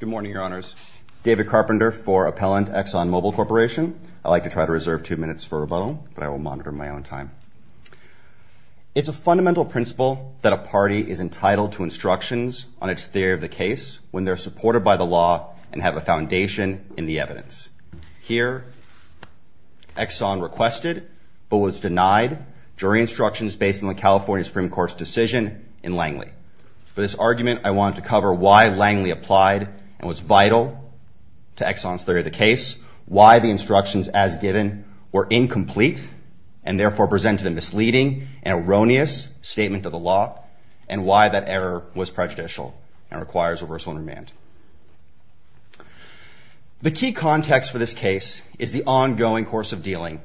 Good morning, Your Honors. David Carpenter for Appellant ExxonMobil Corporation. I'd like to try to reserve two minutes for rebuttal, but I will monitor my own time. It's a fundamental principle that a party is entitled to instructions on its theory of the case when they're supported by the law and have a foundation in the evidence. Here, Exxon requested, but was denied, jury instructions based on the California Supreme Court's decision in Langley. For this argument, I wanted to cover why Langley applied and was vital to Exxon's theory of the case, why the instructions as given were incomplete and therefore presented a misleading and erroneous statement of the law, and why that error was prejudicial and requires reversal and remand. The key context for this case is the ongoing course of dealing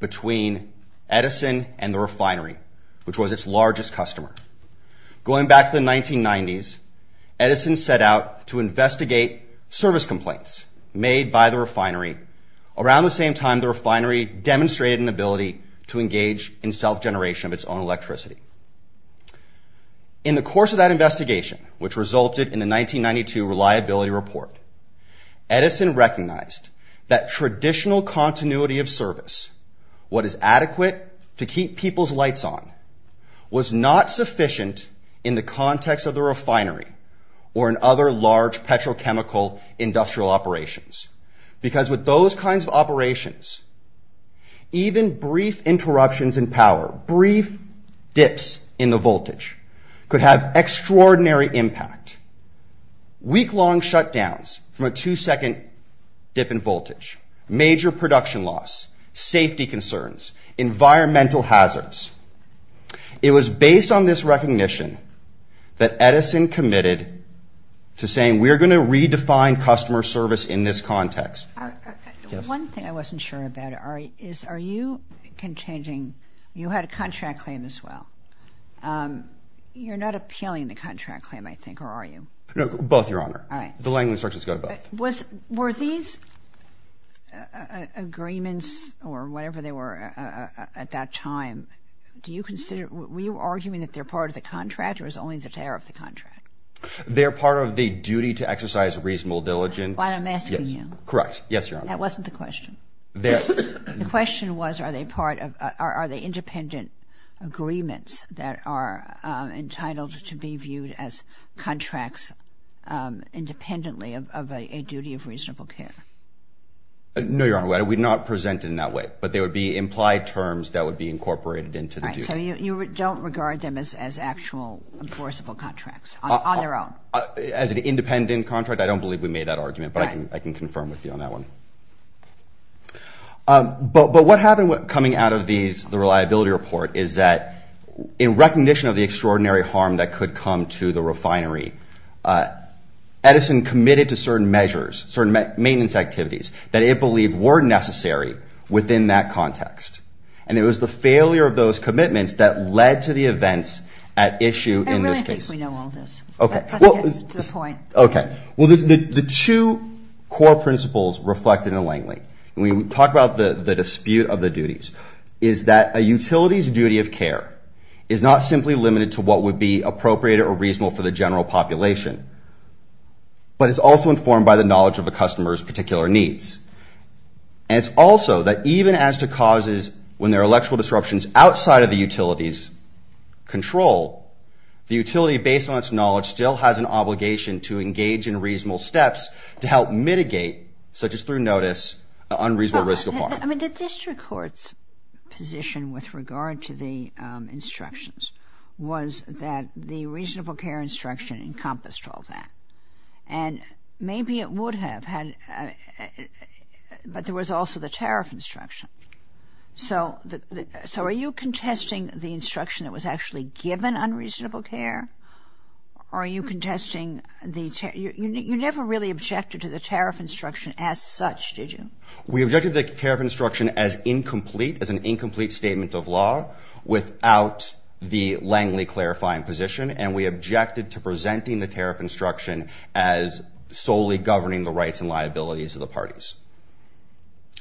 between Edison and the refinery, which was its largest customer. Going back to the 1990s, Edison set out to investigate service complaints made by the refinery. Around the same time, the refinery demonstrated an ability to engage in self-generation of its own electricity. In the course of that investigation, which resulted in the 1992 reliability report, Edison recognized that traditional continuity of service, what is adequate to keep people's lights on, was not sufficient in the context of the refinery or in other large petrochemical industrial operations, because with those kinds of operations, even brief interruptions in power, brief dips in the voltage, could have extraordinary impact. Week-long shutdowns from a two-second dip in voltage, major production loss, safety concerns, environmental hazards. It was based on this recognition that Edison committed to saying, we're going to redefine customer service in this context. One thing I wasn't sure about, Ari, is are you contending you had a contract claim as well? You're not appealing the contract claim, I think, or are you? No, both, Your Honor. All right. The Langley instructions go to both. Were these agreements or whatever they were at that time, were you arguing that they're part of the contract or is it only the tariff of the contract? They're part of the duty to exercise reasonable diligence. Why, I'm asking you. Correct. Yes, Your Honor. That wasn't the question. The question was, are they independent agreements that are entitled to be viewed as contracts independently of a duty of reasonable care? No, Your Honor. We do not present it in that way. But they would be implied terms that would be incorporated into the duty. All right. So you don't regard them as actual enforceable contracts on their own? As an independent contract, I don't believe we made that argument. But I can confirm with you on that one. But what happened coming out of these, the reliability report, is that in recognition of the extraordinary harm that could come to the refinery, Edison committed to certain measures, certain maintenance activities, that it believed were necessary within that context. And it was the failure of those commitments that led to the events at issue in this case. I really think we know all this. Okay. To this point. Okay. Well, the two core principles reflected in Langley, and we talk about the dispute of the duties, is that a utility's duty of care is not simply limited to what would be appropriate or reasonable for the general population. But it's also informed by the knowledge of a customer's particular needs. And it's also that even as to causes when there are electrical disruptions outside of the utility's control, the utility, based on its knowledge, still has an obligation to engage in reasonable steps to help mitigate, such as through notice, unreasonable risk of harm. I mean, the district court's position with regard to the instructions was that the reasonable care instruction encompassed all that. And maybe it would have, but there was also the tariff instruction. So are you contesting the instruction that was actually given on reasonable care? Are you contesting the tariff? You never really objected to the tariff instruction as such, did you? We objected to the tariff instruction as incomplete, as an incomplete statement of law, without the Langley clarifying position, and we objected to presenting the tariff instruction as solely governing the rights and liabilities of the parties.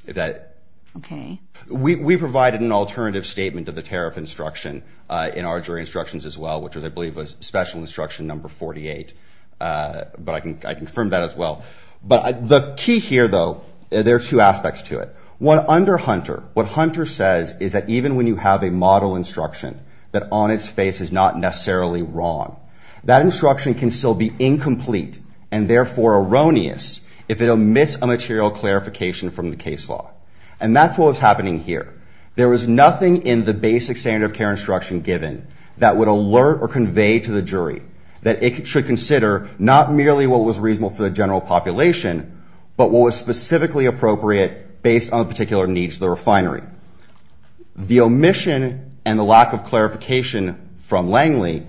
Okay. We provided an alternative statement of the tariff instruction in our jury instructions as well, which I believe was special instruction number 48, but I confirmed that as well. But the key here, though, there are two aspects to it. One, under Hunter, what Hunter says is that even when you have a model instruction that on its face is not necessarily wrong, that instruction can still be incomplete and therefore erroneous if it omits a material clarification from the case law. And that's what was happening here. There was nothing in the basic standard of care instruction given that would alert or convey to the jury that it should consider not merely what was reasonable for the general population, but what was specifically appropriate based on particular needs of the refinery. The omission and the lack of clarification from Langley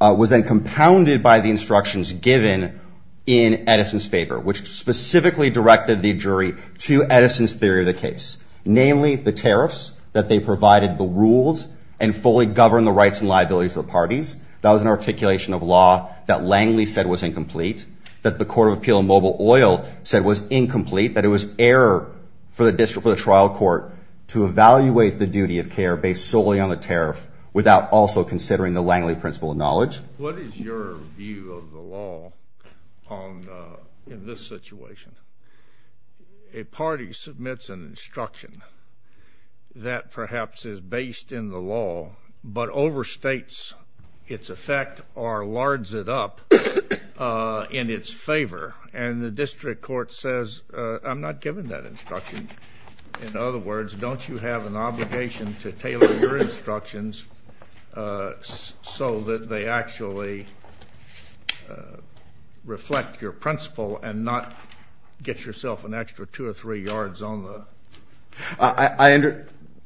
was then compounded by the instructions given in Edison's favor, which specifically directed the jury to Edison's theory of the case, namely the tariffs that they provided the rules and fully govern the rights and liabilities of the parties. That was an articulation of law that Langley said was incomplete, that the Court of Appeal in Mobile Oil said was incomplete, that it was error for the district, for the trial court to evaluate the duty of care based solely on the tariff without also considering the Langley principle of knowledge. What is your view of the law in this situation? A party submits an instruction that perhaps is based in the law but overstates its effect or lards it up in its favor. And the district court says, I'm not giving that instruction. In other words, don't you have an obligation to tailor your instructions so that they actually reflect your principle and not get yourself an extra two or three yards on the? I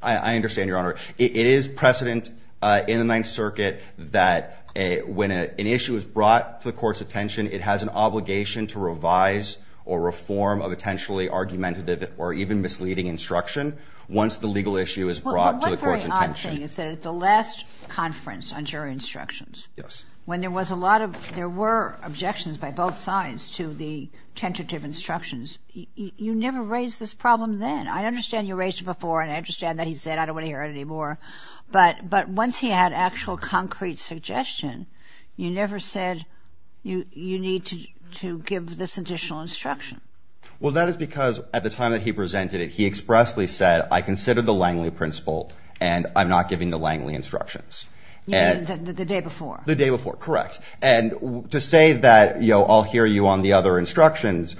understand, Your Honor. It is precedent in the Ninth Circuit that when an issue is brought to the court's attention, it has an obligation to revise or reform a potentially argumentative or even misleading instruction once the legal issue is brought to the court's attention. My understanding is that at the last conference on jury instructions, when there was a lot of, there were objections by both sides to the tentative instructions, you never raised this problem then. I understand you raised it before and I understand that he said I don't want to hear it anymore. But once he had actual concrete suggestion, you never said you need to give this additional instruction. Well, that is because at the time that he presented it, he expressly said I consider the Langley principle and I'm not giving the Langley instructions. You mean the day before? The day before, correct. And to say that, you know, I'll hear you on the other instructions,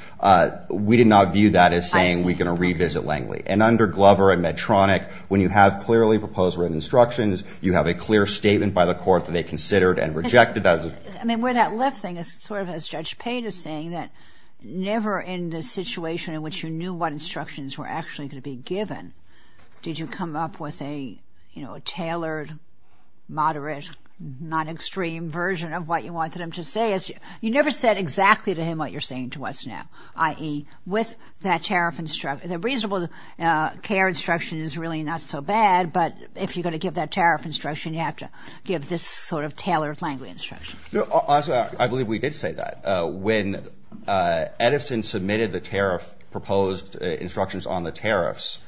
we did not view that as saying we're going to revisit Langley. And under Glover and Medtronic, when you have clearly proposed written instructions, you have a clear statement by the court that they considered and rejected those. I mean, where that left thing is sort of as Judge Payne is saying, that never in the situation in which you knew what instructions were actually going to be given, did you come up with a, you know, a tailored, moderate, non-extreme version of what you wanted him to say. You never said exactly to him what you're saying to us now, i.e., with that tariff instruction. The reasonable care instruction is really not so bad, but if you're going to give that tariff instruction, you have to give this sort of tailored Langley instruction. No, honestly, I believe we did say that. When Edison submitted the tariff proposed instructions on the tariffs,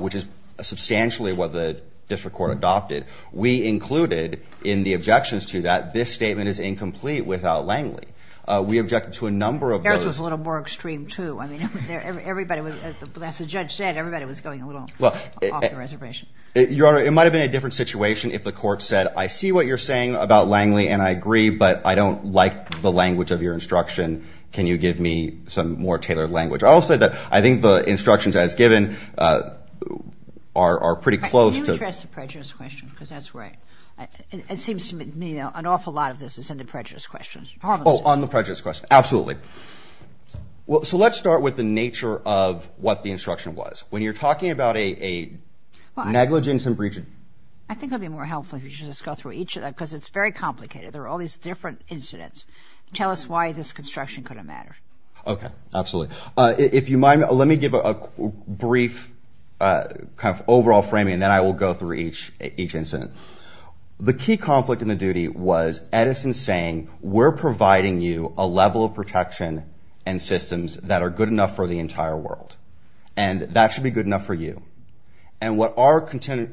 which is substantially what the district court adopted, we included in the objections to that this statement is incomplete without Langley. We objected to a number of those. Harris was a little more extreme, too. I mean, everybody was, as the judge said, everybody was going a little off the reservation. Your Honor, it might have been a different situation if the court said, I see what you're saying about Langley, and I agree, but I don't like the language of your instruction. Can you give me some more tailored language? I will say that I think the instructions as given are pretty close to... Can you address the prejudice question, because that's where it seems to me an awful lot of this is in the prejudice question. Oh, on the prejudice question, absolutely. So let's start with the nature of what the instruction was. When you're talking about a negligence and breach of... I think it would be more helpful if you just go through each of that, because it's very complicated. There are all these different incidents. Tell us why this construction couldn't matter. Okay, absolutely. If you mind, let me give a brief kind of overall framing, and then I will go through each incident. The key conflict in the duty was Edison saying, we're providing you a level of protection and systems that are good enough for the entire world, and that should be good enough for you. And what our contention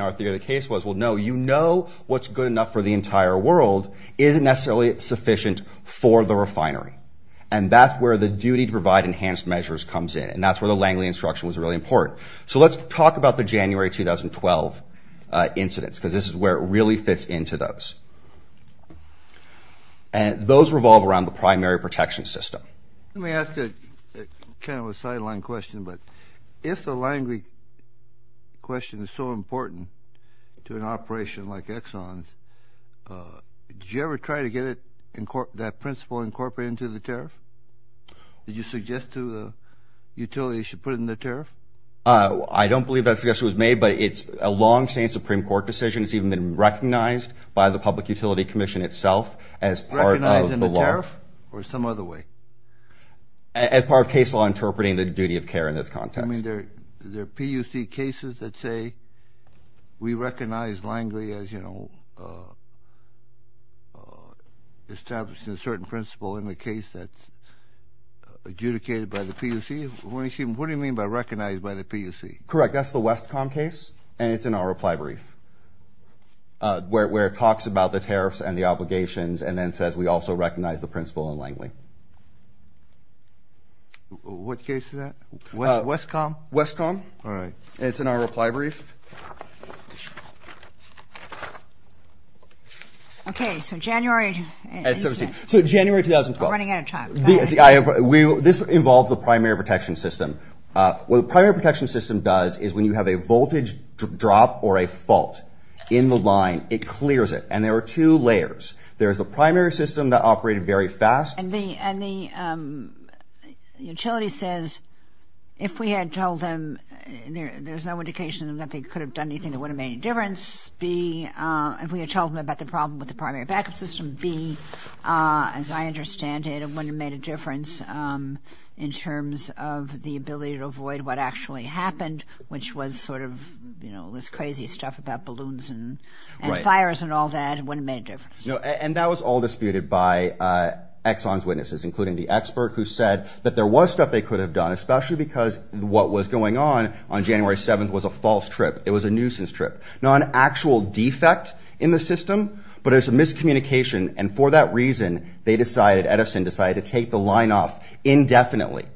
in our theory of the case was, well, no, you know what's good enough for the entire world isn't necessarily sufficient for the refinery, and that's where the duty to provide enhanced measures comes in, and that's where the Langley instruction was really important. So let's talk about the January 2012 incidents, because this is where it really fits into those. Those revolve around the primary protection system. Let me ask kind of a sideline question, but if the Langley question is so important to an operation like Exxon's, did you ever try to get that principle incorporated into the tariff? Did you suggest to the utility you should put it in the tariff? I don't believe that suggestion was made, but it's a long-standing Supreme Court decision. It's even been recognized by the Public Utility Commission itself as part of the law. As part of the tariff or some other way? As part of case law interpreting the duty of care in this context. I mean, there are PUC cases that say we recognize Langley as, you know, establishing a certain principle in the case that's adjudicated by the PUC. What do you mean by recognized by the PUC? Correct. That's the Westcom case, and it's in our reply brief, where it talks about the tariffs and the obligations and then says we also recognize the principle in Langley. What case is that? Westcom. Westcom. All right. And it's in our reply brief. Okay, so January. So January 2012. I'm running out of time. This involves the primary protection system. What the primary protection system does is when you have a voltage drop or a fault in the line, it clears it. And there are two layers. There is the primary system that operated very fast. And the utility says if we had told them there's no indication that they could have done anything that wouldn't have made any difference, B, if we had told them about the problem with the primary backup system, B, as I understand it, it wouldn't have made a difference in terms of the ability to avoid what actually happened, which was sort of this crazy stuff about balloons and fires and all that. It wouldn't have made a difference. And that was all disputed by Exxon's witnesses, including the expert who said that there was stuff they could have done, especially because what was going on on January 7th was a false trip. It was a nuisance trip, not an actual defect in the system, but it was a miscommunication. And for that reason, they decided, Edison decided, to take the line off indefinitely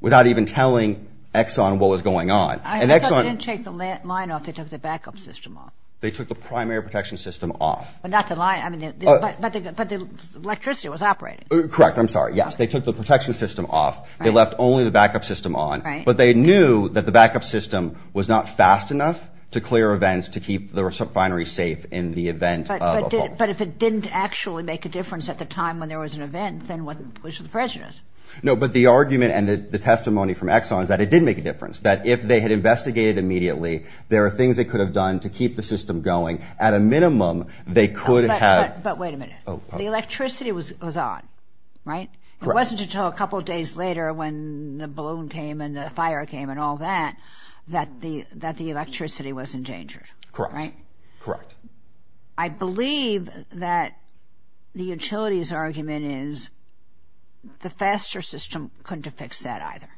without even telling Exxon what was going on. And Exxon... They didn't take the line off. They took the backup system off. They took the primary protection system off. But not the line. But the electricity was operating. Correct. I'm sorry. Yes, they took the protection system off. They left only the backup system on. But they knew that the backup system was not fast enough to clear events to keep the subfinery safe in the event of a fault. But if it didn't actually make a difference at the time when there was an event, then what was the prejudice? No, but the argument and the testimony from Exxon is that it did make a difference, that if they had investigated immediately, there are things they could have done to keep the system going. At a minimum, they could have... But wait a minute. Oh, pardon me. The electricity was on, right? Correct. It wasn't until a couple of days later when the balloon came and the fire came and all that that the electricity was endangered, right? Correct. Correct. I believe that the utility's argument is the faster system couldn't have fixed that either.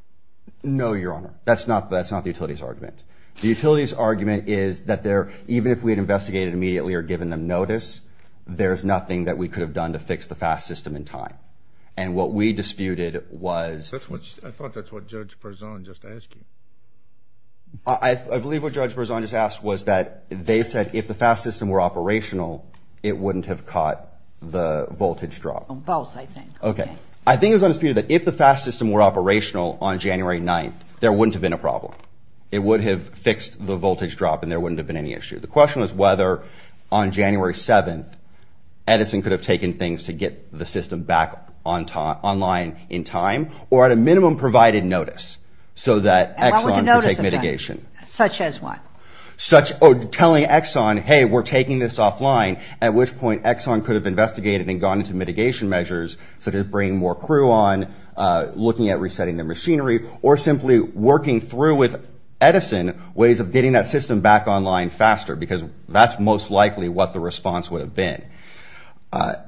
No, Your Honor. That's not the utility's argument. The utility's argument is that even if we had investigated immediately or given them notice, there's nothing that we could have done to fix the fast system in time. And what we disputed was... I thought that's what Judge Berzon just asked you. I believe what Judge Berzon just asked was that they said if the fast system were operational, it wouldn't have caught the voltage drop. Both, I think. Okay. I think it was undisputed that if the fast system were operational on January 9th, there wouldn't have been a problem. It would have fixed the voltage drop and there wouldn't have been any issue. The question was whether on January 7th, Edison could have taken things to get the system back online in time or at a minimum provided notice so that Exxon could take mitigation. Such as what? Telling Exxon, hey, we're taking this offline, at which point Exxon could have investigated and gone into mitigation measures, such as bringing more crew on, looking at resetting their machinery, or simply working through with Edison ways of getting that system back online faster because that's most likely what the response would have been.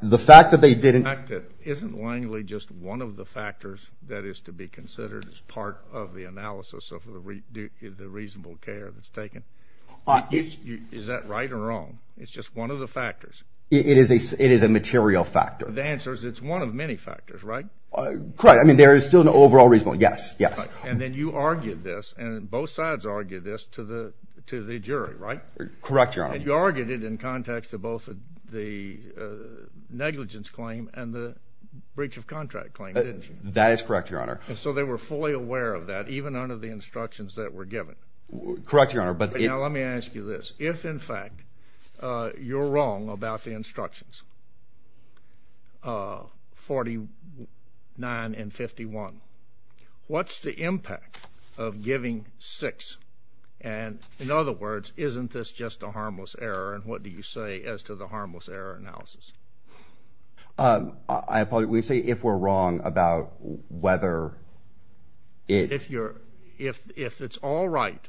The fact that they didn't... Isn't Langley just one of the factors that is to be considered as part of the analysis of the reasonable care that's taken? Is that right or wrong? It's just one of the factors. It is a material factor. The answer is it's one of many factors, right? Correct. I mean, there is still an overall reasonable, yes, yes. And then you argued this, and both sides argued this to the jury, right? Correct, Your Honor. And you argued it in context of both the negligence claim and the breach of contract claim, didn't you? That is correct, Your Honor. So they were fully aware of that, even under the instructions that were given? Correct, Your Honor. Now, let me ask you this. If, in fact, you're wrong about the instructions, 49 and 51, what's the impact of giving six? And, in other words, isn't this just a harmless error, and what do you say as to the harmless error analysis? I apologize. We say if we're wrong about whether it... If it's all right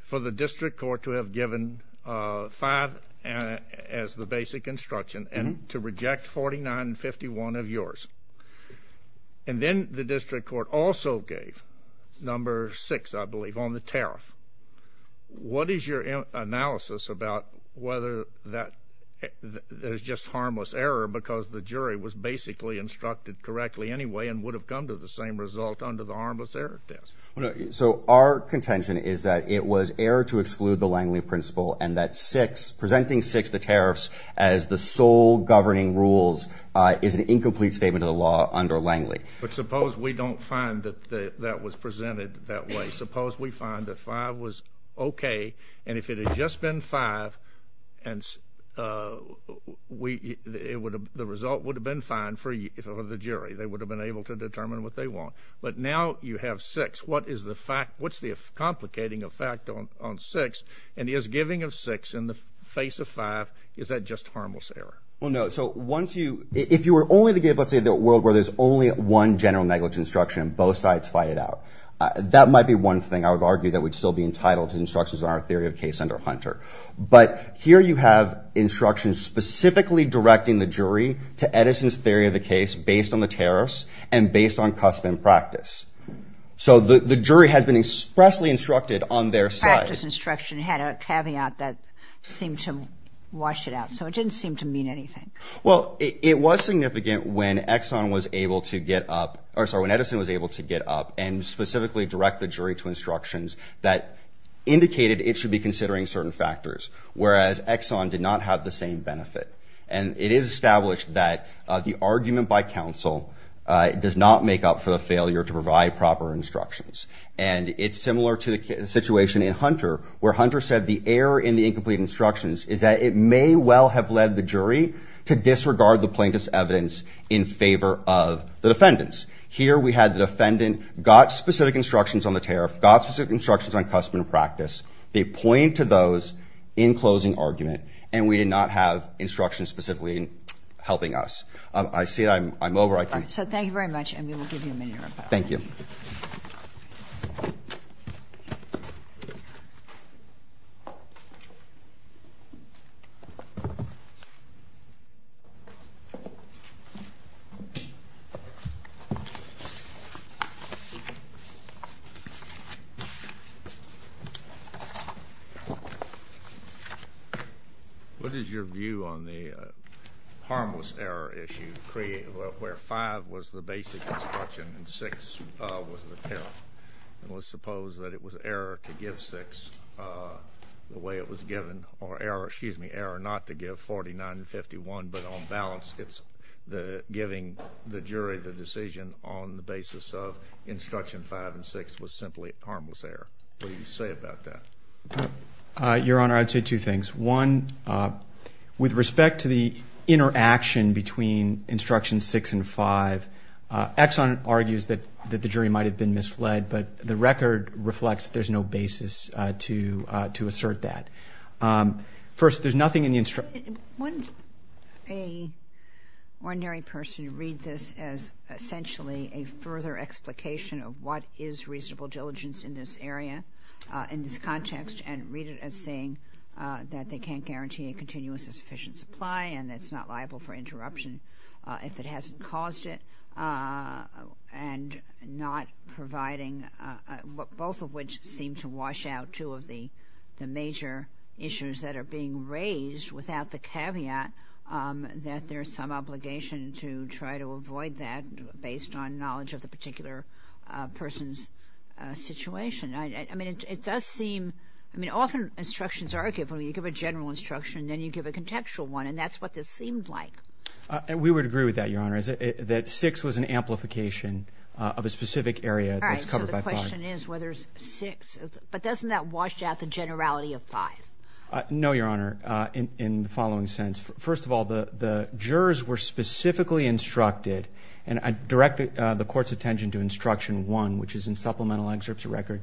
for the district court to have given five as the basic instruction and to reject 49 and 51 of yours, and then the district court also gave number six, I believe, on the tariff, what is your analysis about whether that is just harmless error because the jury was basically instructed correctly anyway and would have come to the same result under the harmless error test? So our contention is that it was error to exclude the Langley principle and that six, presenting six, the tariffs, as the sole governing rules is an incomplete statement of the law under Langley. But suppose we don't find that that was presented that way. Suppose we find that five was okay, and if it had just been five, the result would have been fine for the jury. They would have been able to determine what they want. But now you have six. What's the complicating effect on six? And is giving of six in the face of five, is that just harmless error? Well, no. So if you were only to give, let's say, the world where there's only one general negligence instruction and both sides fight it out, that might be one thing I would argue that would still be entitled to instructions in our theory of case under Hunter. But here you have instructions specifically directing the jury to Edison's theory of the case based on the tariffs and based on custom practice. So the jury has been expressly instructed on their side. But this instruction had a caveat that seemed to wash it out. So it didn't seem to mean anything. Well, it was significant when Edison was able to get up and specifically direct the jury to instructions that indicated it should be considering certain factors, whereas Exxon did not have the same benefit. And it is established that the argument by counsel does not make up for the failure to provide proper instructions. And it's similar to the situation in Hunter, where Hunter said the error in the incomplete instructions is that it may well have led the jury to disregard the plaintiff's evidence in favor of the defendants. Here we had the defendant got specific instructions on the tariff, got specific instructions on custom and practice. They point to those in closing argument, and we did not have instructions specifically helping us. I see I'm over. So thank you very much, and we will give you a minute. Thank you. Thank you. What is your view on the harmless error issue where 5 was the basic instruction and 6 was the tariff? And let's suppose that it was error to give 6 the way it was given, or error not to give 49 and 51, but on balance it's giving the jury the decision on the basis of instruction 5 and 6 was simply harmless error. What do you say about that? Your Honor, I'd say two things. One, with respect to the interaction between instructions 6 and 5, Exxon argues that the jury might have been misled, but the record reflects there's no basis to assert that. First, there's nothing in the instructions. Wouldn't an ordinary person read this as essentially a further explication of what is reasonable diligence in this area, in this context, and read it as saying that they can't guarantee a continuous and sufficient supply and it's not liable for interruption if it hasn't caused it, and not providing, both of which seem to wash out two of the major issues that are being raised without the caveat that there's some obligation to try to avoid that based on knowledge of the particular person's situation. I mean, it does seem, I mean, often instructions are given. You give a general instruction and then you give a contextual one, and that's what this seemed like. We would agree with that, Your Honor, that 6 was an amplification of a specific area that's covered by 5. All right, so the question is whether 6, but doesn't that wash out the generality of 5? No, Your Honor, in the following sense. First of all, the jurors were specifically instructed, and I direct the Court's attention to Instruction 1, which is in Supplemental Excerpts of Record,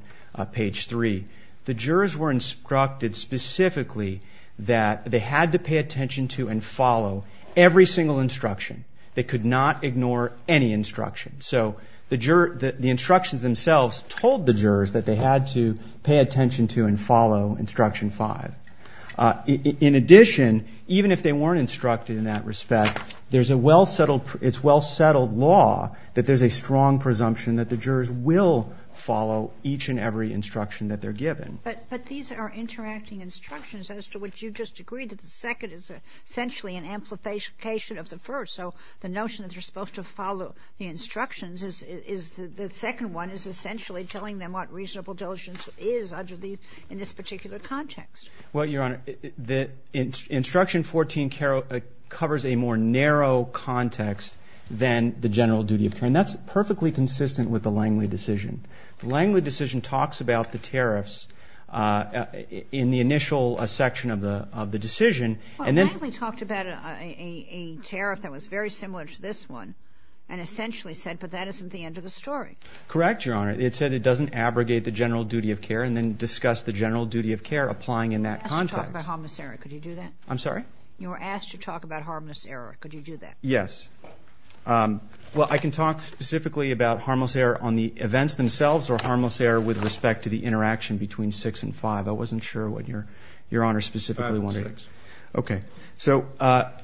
page 3. The jurors were instructed specifically that they had to pay attention to and follow every single instruction. They could not ignore any instruction. So the instructions themselves told the jurors that they had to pay attention to and follow Instruction 5. In addition, even if they weren't instructed in that respect, there's a well-settled, it's well-settled law that there's a strong presumption that the jurors will follow each and every instruction that they're given. But these are interacting instructions as to which you just agreed, that the second is essentially an amplification of the first. So the notion that they're supposed to follow the instructions is the second one is essentially telling them what reasonable diligence is under these, in this particular context. Well, Your Honor, Instruction 14 covers a more narrow context than the general duty of care, and that's perfectly consistent with the Langley decision. The Langley decision talks about the tariffs in the initial section of the decision. Well, Langley talked about a tariff that was very similar to this one and essentially said, but that isn't the end of the story. Correct, Your Honor. And then discuss the general duty of care applying in that context. You were asked to talk about harmless error. Could you do that? I'm sorry? You were asked to talk about harmless error. Could you do that? Yes. Well, I can talk specifically about harmless error on the events themselves or harmless error with respect to the interaction between 6 and 5. I wasn't sure what Your Honor specifically wanted. 5 and 6. Okay. So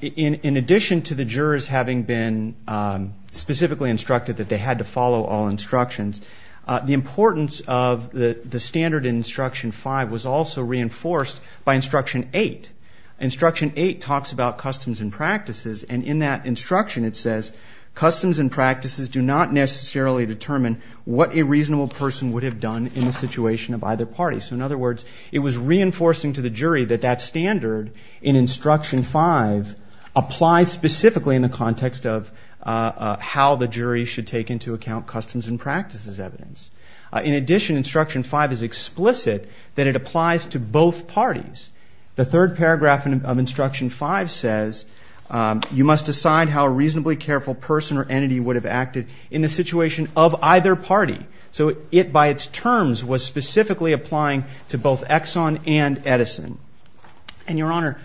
in addition to the jurors having been specifically instructed that they had to follow all instructions, the importance of the standard in Instruction 5 was also reinforced by Instruction 8. Instruction 8 talks about customs and practices, and in that instruction it says customs and practices do not necessarily determine what a reasonable person would have done in the situation of either party. So, in other words, it was reinforcing to the jury that that standard in Instruction 5 applies specifically in the context of how the jury should take into account customs and practices evidence. In addition, Instruction 5 is explicit that it applies to both parties. The third paragraph of Instruction 5 says you must decide how a reasonably careful person or entity would have acted in the situation of either party. So it, by its terms, was specifically applying to both Exxon and Edison. And, Your Honor,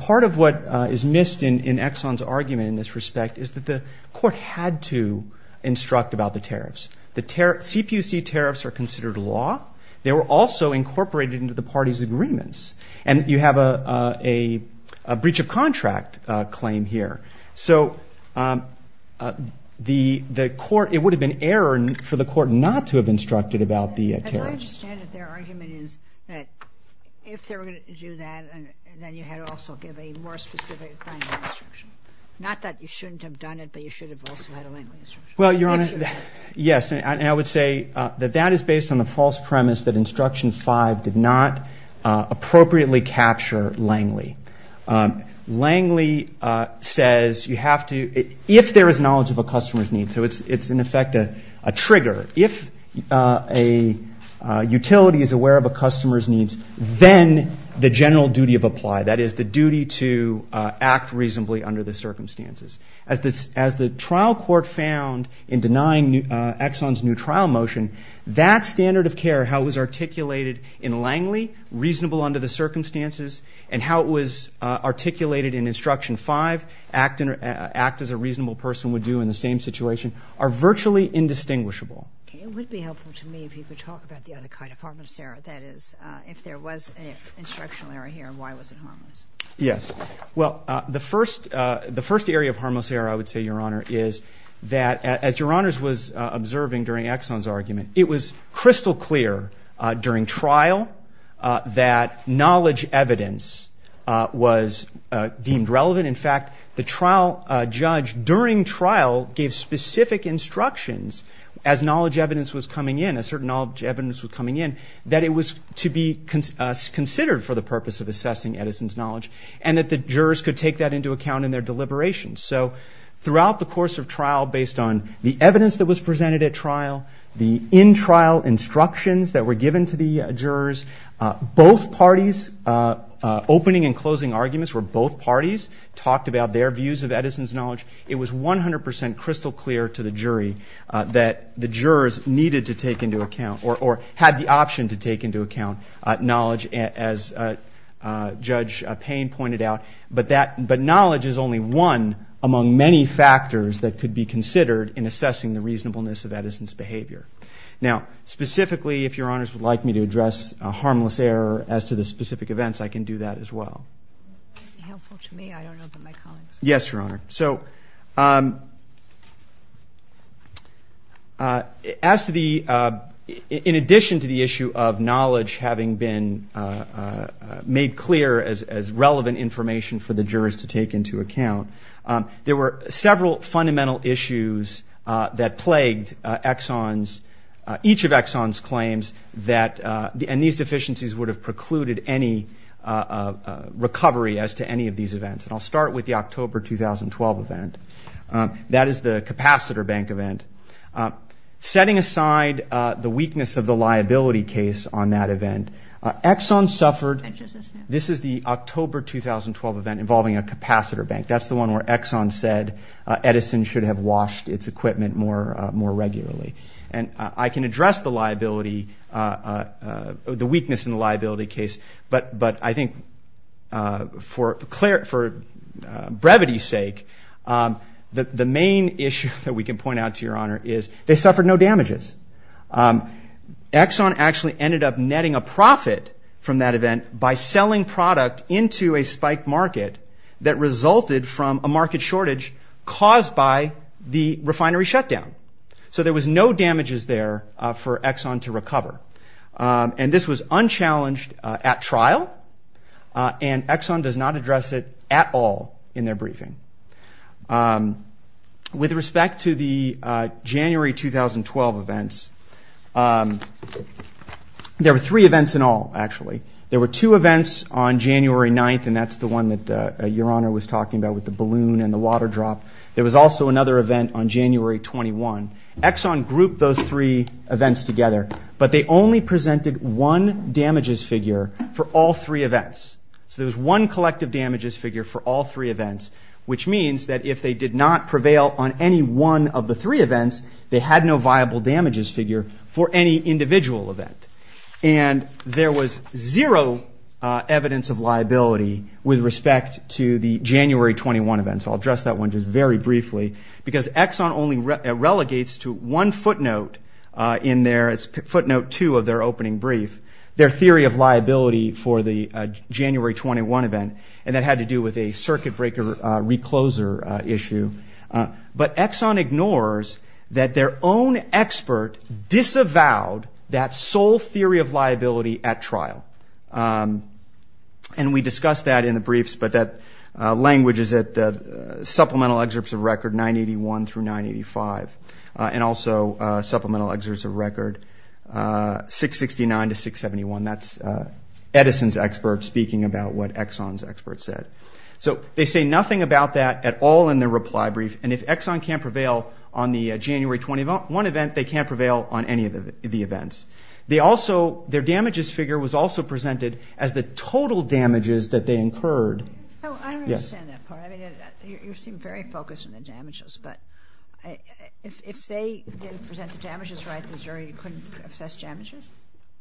part of what is missed in Exxon's argument in this respect is that the court had to instruct about the tariffs. The tariffs, CPUC tariffs, are considered law. They were also incorporated into the parties' agreements. And you have a breach of contract claim here. So the court, it would have been error for the court not to have instructed about the tariffs. And I understand that their argument is that if they were going to do that, then you had to also give a more specific kind of instruction. Not that you shouldn't have done it, but you should have also had a Langley instruction. Well, Your Honor, yes. And I would say that that is based on the false premise that Instruction 5 did not appropriately capture Langley. Langley says you have to, if there is knowledge of a customer's needs, so it's, in effect, a trigger. If a utility is aware of a customer's needs, then the general duty of apply, that is, the duty to act reasonably under the circumstances. As the trial court found in denying Exxon's new trial motion, that standard of care, how it was articulated in Langley, reasonable under the circumstances, and how it was articulated in Instruction 5, act as a reasonable person would do in the same situation, are virtually indistinguishable. Okay. It would be helpful to me if you could talk about the other kind of harm that's there. That is, if there was an instructional error here, why was it harmless? Yes. Well, the first area of harmless error, I would say, Your Honor, is that, as Your Honors was observing during Exxon's argument, it was crystal clear during trial that knowledge evidence was deemed relevant. In fact, the trial judge during trial gave specific instructions as knowledge evidence was coming in, as certain knowledge evidence was coming in, that it was to be considered for the purpose of assessing Edison's knowledge and that the jurors could take that into account in their deliberations. So throughout the course of trial, based on the evidence that was presented at trial, the in-trial instructions that were given to the jurors, both parties' opening and closing arguments where both parties talked about their views of Edison's knowledge, it was 100 percent crystal clear to the jury that the jurors needed to take into account or had the option to take into account knowledge, as Judge Payne pointed out. But knowledge is only one among many factors that could be considered in assessing the reasonableness of Edison's behavior. Now, specifically, if Your Honors would like me to address a harmless error as to the specific events, I can do that as well. That would be helpful to me. I don't know about my colleagues. Yes, Your Honor. So in addition to the issue of knowledge having been made clear as relevant information for the jurors to take into account, there were several fundamental issues that plagued each of Exxon's claims and these deficiencies would have precluded any recovery as to any of these events. And I'll start with the October 2012 event. That is the capacitor bank event. Setting aside the weakness of the liability case on that event, Exxon suffered... This is the October 2012 event involving a capacitor bank. That's the one where Exxon said Edison should have washed its equipment more regularly. And I can address the liability, the weakness in the liability case, but I think for brevity's sake, the main issue that we can point out to Your Honor is they suffered no damages. Exxon actually ended up netting a profit from that event by selling product into a spiked market that resulted from a market shortage caused by the refinery shutdown. So there was no damages there for Exxon to recover. And this was unchallenged at trial, and Exxon does not address it at all in their briefing. With respect to the January 2012 events, there were three events in all, actually. There were two events on January 9th, and that's the one that Your Honor was talking about with the balloon and the water drop. There was also another event on January 21. Exxon grouped those three events together, but they only presented one damages figure for all three events. So there was one collective damages figure for all three events, which means that if they did not prevail on any one of the three events, they had no viable damages figure for any individual event. And there was zero evidence of liability with respect to the January 21 events. I'll address that one just very briefly, because Exxon only relegates to one footnote in their footnote two of their opening brief, their theory of liability for the January 21 event, and that had to do with a circuit breaker recloser issue. But Exxon ignores that their own expert disavowed that sole theory of liability at trial. And we discussed that in the briefs, but that language is at supplemental excerpts of record 981 through 985, and also supplemental excerpts of record 669 to 671. That's Edison's expert speaking about what Exxon's expert said. So they say nothing about that at all in their reply brief, and if Exxon can't prevail on the January 21 event, they can't prevail on any of the events. Their damages figure was also presented as the total damages that they incurred. I don't understand that part. You seem very focused on the damages, but if they didn't present the damages right, the jury couldn't assess damages?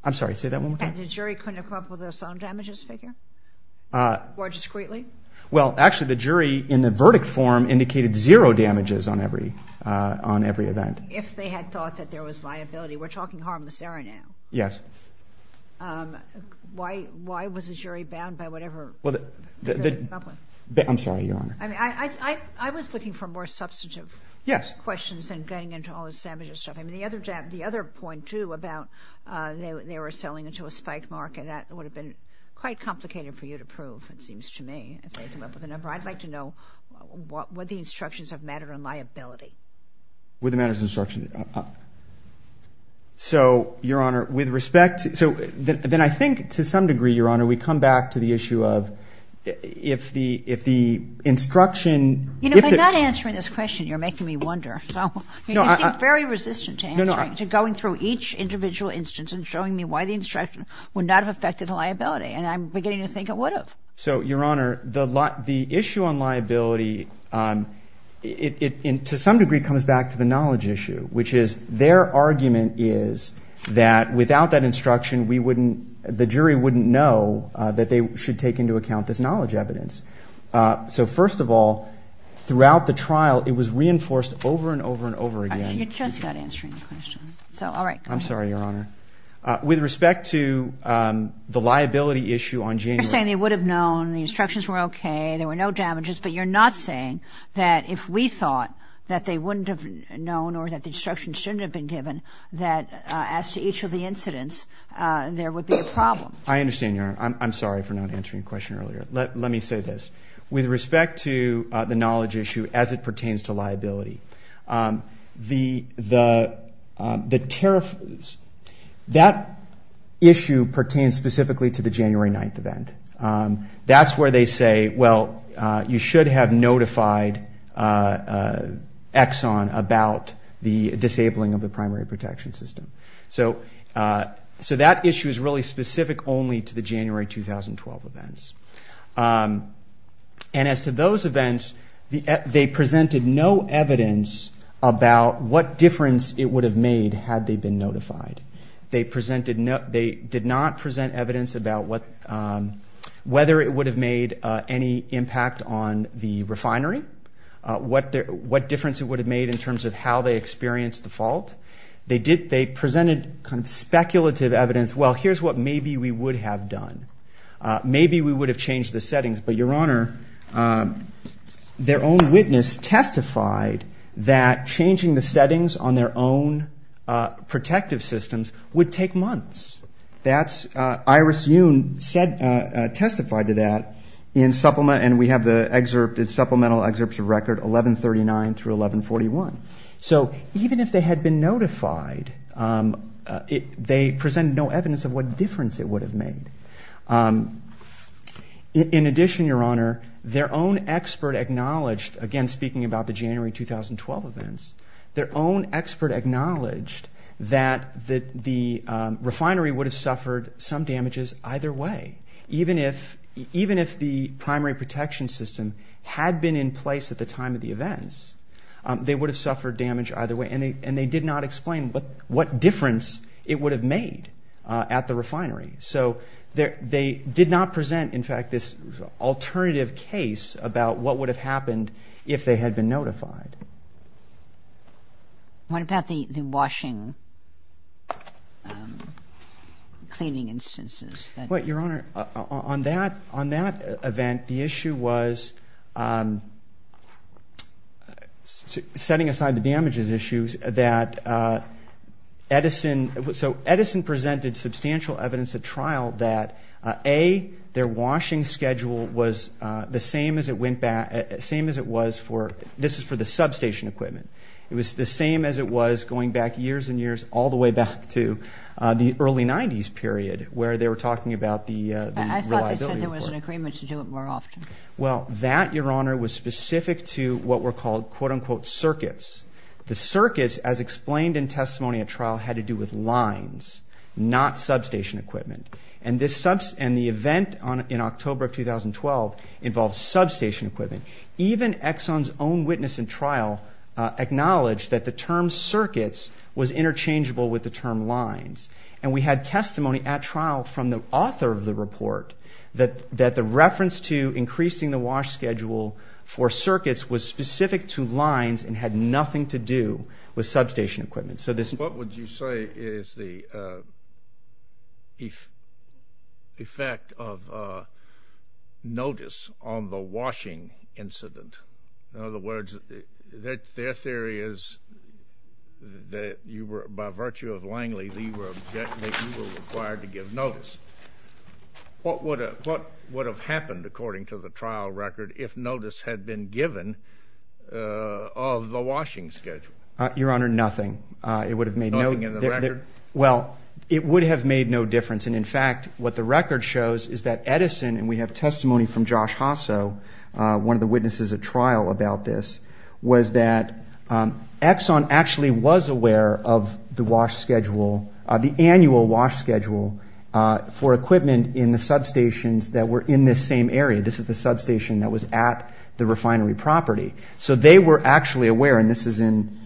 I'm sorry, say that one more time. The jury couldn't come up with their own damages figure? Or discreetly? Well, actually, the jury in the verdict form indicated zero damages on every event. If they had thought that there was liability, we're talking harmless error now. Yes. Why was the jury bound by whatever the jury came up with? I'm sorry, Your Honor. I was looking for more substantive questions than getting into all this damages stuff. The other point, too, about they were selling into a spiked market, that would have been quite complicated for you to prove, it seems to me, if they had come up with a number. I'd like to know would the instructions have mattered on liability? Would the matters of instruction? So, Your Honor, with respect to – then I think to some degree, Your Honor, we come back to the issue of if the instruction – You know, by not answering this question, you're making me wonder. You seem very resistant to answering, to going through each individual instance and showing me why the instruction would not have affected the liability, and I'm beginning to think it would have. So, Your Honor, the issue on liability, to some degree, comes back to the knowledge issue, which is their argument is that without that instruction, the jury wouldn't know that they should take into account this knowledge evidence. So, first of all, throughout the trial, it was reinforced over and over and over again. You just got answering the question. I'm sorry, Your Honor. With respect to the liability issue on January – You're saying they would have known, the instructions were okay, there were no damages, but you're not saying that if we thought that they wouldn't have known or that the instructions shouldn't have been given, that as to each of the incidents, there would be a problem. I understand, Your Honor. I'm sorry for not answering your question earlier. Let me say this. With respect to the knowledge issue as it pertains to liability, the – that issue pertains specifically to the January 9th event. That's where they say, well, you should have notified Exxon about the disabling of the primary protection system. So that issue is really specific only to the January 2012 events. And as to those events, they presented no evidence about what difference it would have made had they been notified. They presented – they did not present evidence about what – whether it would have made any impact on the refinery, what difference it would have made in terms of how they experienced the fault. They did – they presented kind of speculative evidence. Well, here's what maybe we would have done. Maybe we would have changed the settings, but, Your Honor, their own witness testified that changing the settings on their own protective systems would take months. That's – Iris Yoon testified to that in supplement – and we have the supplemental excerpts of record 1139 through 1141. So even if they had been notified, they presented no evidence of what difference it would have made. In addition, Your Honor, their own expert acknowledged – again, speaking about the January 2012 events – their own expert acknowledged that the refinery would have suffered some damages either way. Even if the primary protection system had been in place at the time of the events, they would have suffered damage either way, and they did not explain what difference it would have made at the refinery. So they did not present, in fact, this alternative case about what would have happened if they had been notified. What about the washing, cleaning instances? Well, Your Honor, on that event, the issue was – setting aside the damages issues – that Edison – A, their washing schedule was the same as it went back – same as it was for – this is for the substation equipment. It was the same as it was going back years and years all the way back to the early 90s period where they were talking about the reliability report. I thought they said there was an agreement to do it more often. Well, that, Your Honor, was specific to what were called, quote-unquote, circuits. The circuits, as explained in testimony at trial, had to do with lines, not substation equipment. And the event in October of 2012 involved substation equipment. Even Exxon's own witness in trial acknowledged that the term circuits was interchangeable with the term lines. And we had testimony at trial from the author of the report that the reference to increasing the wash schedule for circuits was specific to lines and had nothing to do with substation equipment. So this – What would you say is the effect of notice on the washing incident? In other words, their theory is that you were – by virtue of Langley, you were required to give notice. What would have happened, according to the trial record, if notice had been given of the washing schedule? Your Honor, nothing. It would have made no – Nothing in the record? Well, it would have made no difference. And, in fact, what the record shows is that Edison – and we have testimony from Josh Hosso, one of the witnesses at trial about this – was that Exxon actually was aware of the wash schedule, the annual wash schedule for equipment in the substations that were in this same area. This is the substation that was at the refinery property. So they were actually aware – and this is in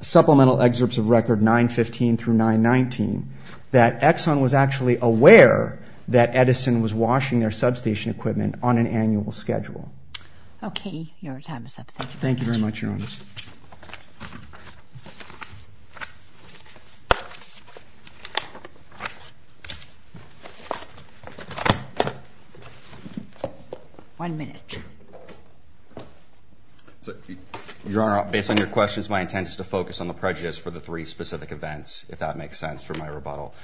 supplemental excerpts of record 915 through 919 – that Exxon was actually aware that Edison was washing their substation equipment on an annual schedule. Okay. Your time is up. Thank you very much, Your Honor. One minute. Your Honor, based on your questions, my intent is to focus on the prejudice for the three specific events, if that makes sense for my rebuttal.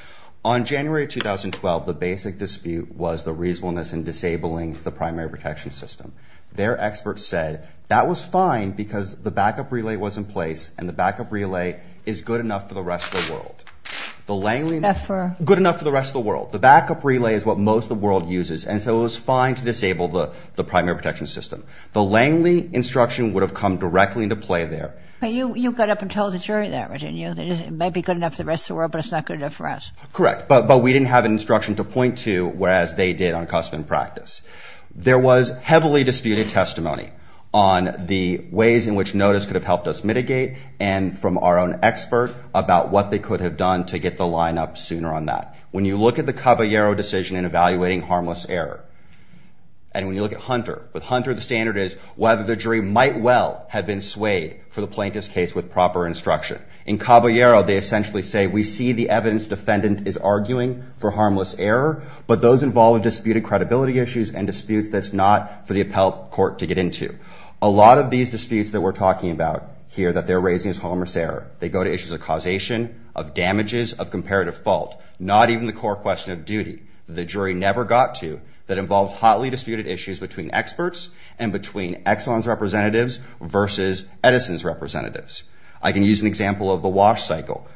On January 2012, the basic dispute was the reasonableness in disabling the primary protection system. Their experts said that was fine because the backup relay was in place and the backup relay is good enough for the rest of the world. The Langley – Not for – Good enough for the rest of the world. The backup relay is what most of the world uses, and so it was fine to disable the primary protection system. The Langley instruction would have come directly into play there. But you got up and told the jury that, didn't you? It may be good enough for the rest of the world, but it's not good enough for us. Correct. But we didn't have an instruction to point to, whereas they did on custom and practice. There was heavily disputed testimony on the ways in which notice could have helped us mitigate and from our own expert about what they could have done to get the line up sooner on that. When you look at the Caballero decision in evaluating harmless error, and when you look at Hunter, with Hunter the standard is whether the jury might well have been swayed for the plaintiff's case with proper instruction. In Caballero, they essentially say, we see the evidence defendant is arguing for harmless error, but those involve disputed credibility issues and disputes that's not for the appellate court to get into. A lot of these disputes that we're talking about here that they're raising is harmless error. They go to issues of causation, of damages, of comparative fault. Not even the core question of duty. The jury never got to that involved hotly disputed issues between experts and between Exxon's representatives versus Edison's representatives. I can use an example of the wash cycle.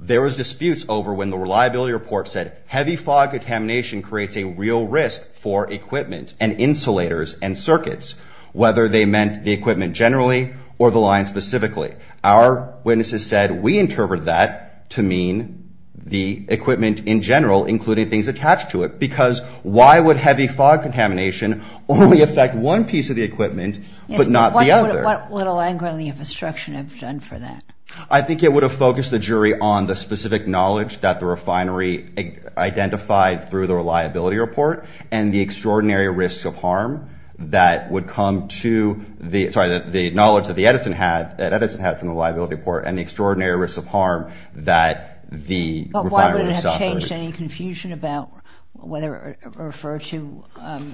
There was disputes over when the reliability report said, heavy fog contamination creates a real risk for equipment and insulators and circuits, whether they meant the equipment generally or the line specifically. Our witnesses said, we interpret that to mean the equipment in general, including things attached to it, because why would heavy fog contamination only affect one piece of the equipment but not the other? What would a land grant of the infrastructure have done for that? I think it would have focused the jury on the specific knowledge that the refinery identified through the reliability report and the extraordinary risk of harm that would come to the, sorry, the knowledge that Edison had from the reliability report and the extraordinary risk of harm that the refinery would have suffered. But why would it have changed any confusion about whether it referred to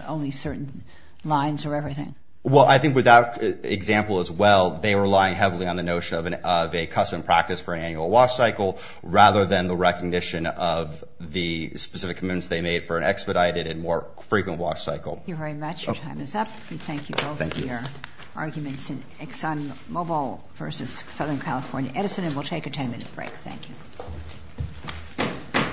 only certain lines or everything? Well, I think with that example as well, they were relying heavily on the notion of a custom practice for an annual wash cycle rather than the recognition of the specific commitments they made for an expedited and more frequent wash cycle. Thank you very much. Your time is up. Thank you both for your arguments in ExxonMobil versus Southern California Edison, and we'll take a 10-minute break. Thank you.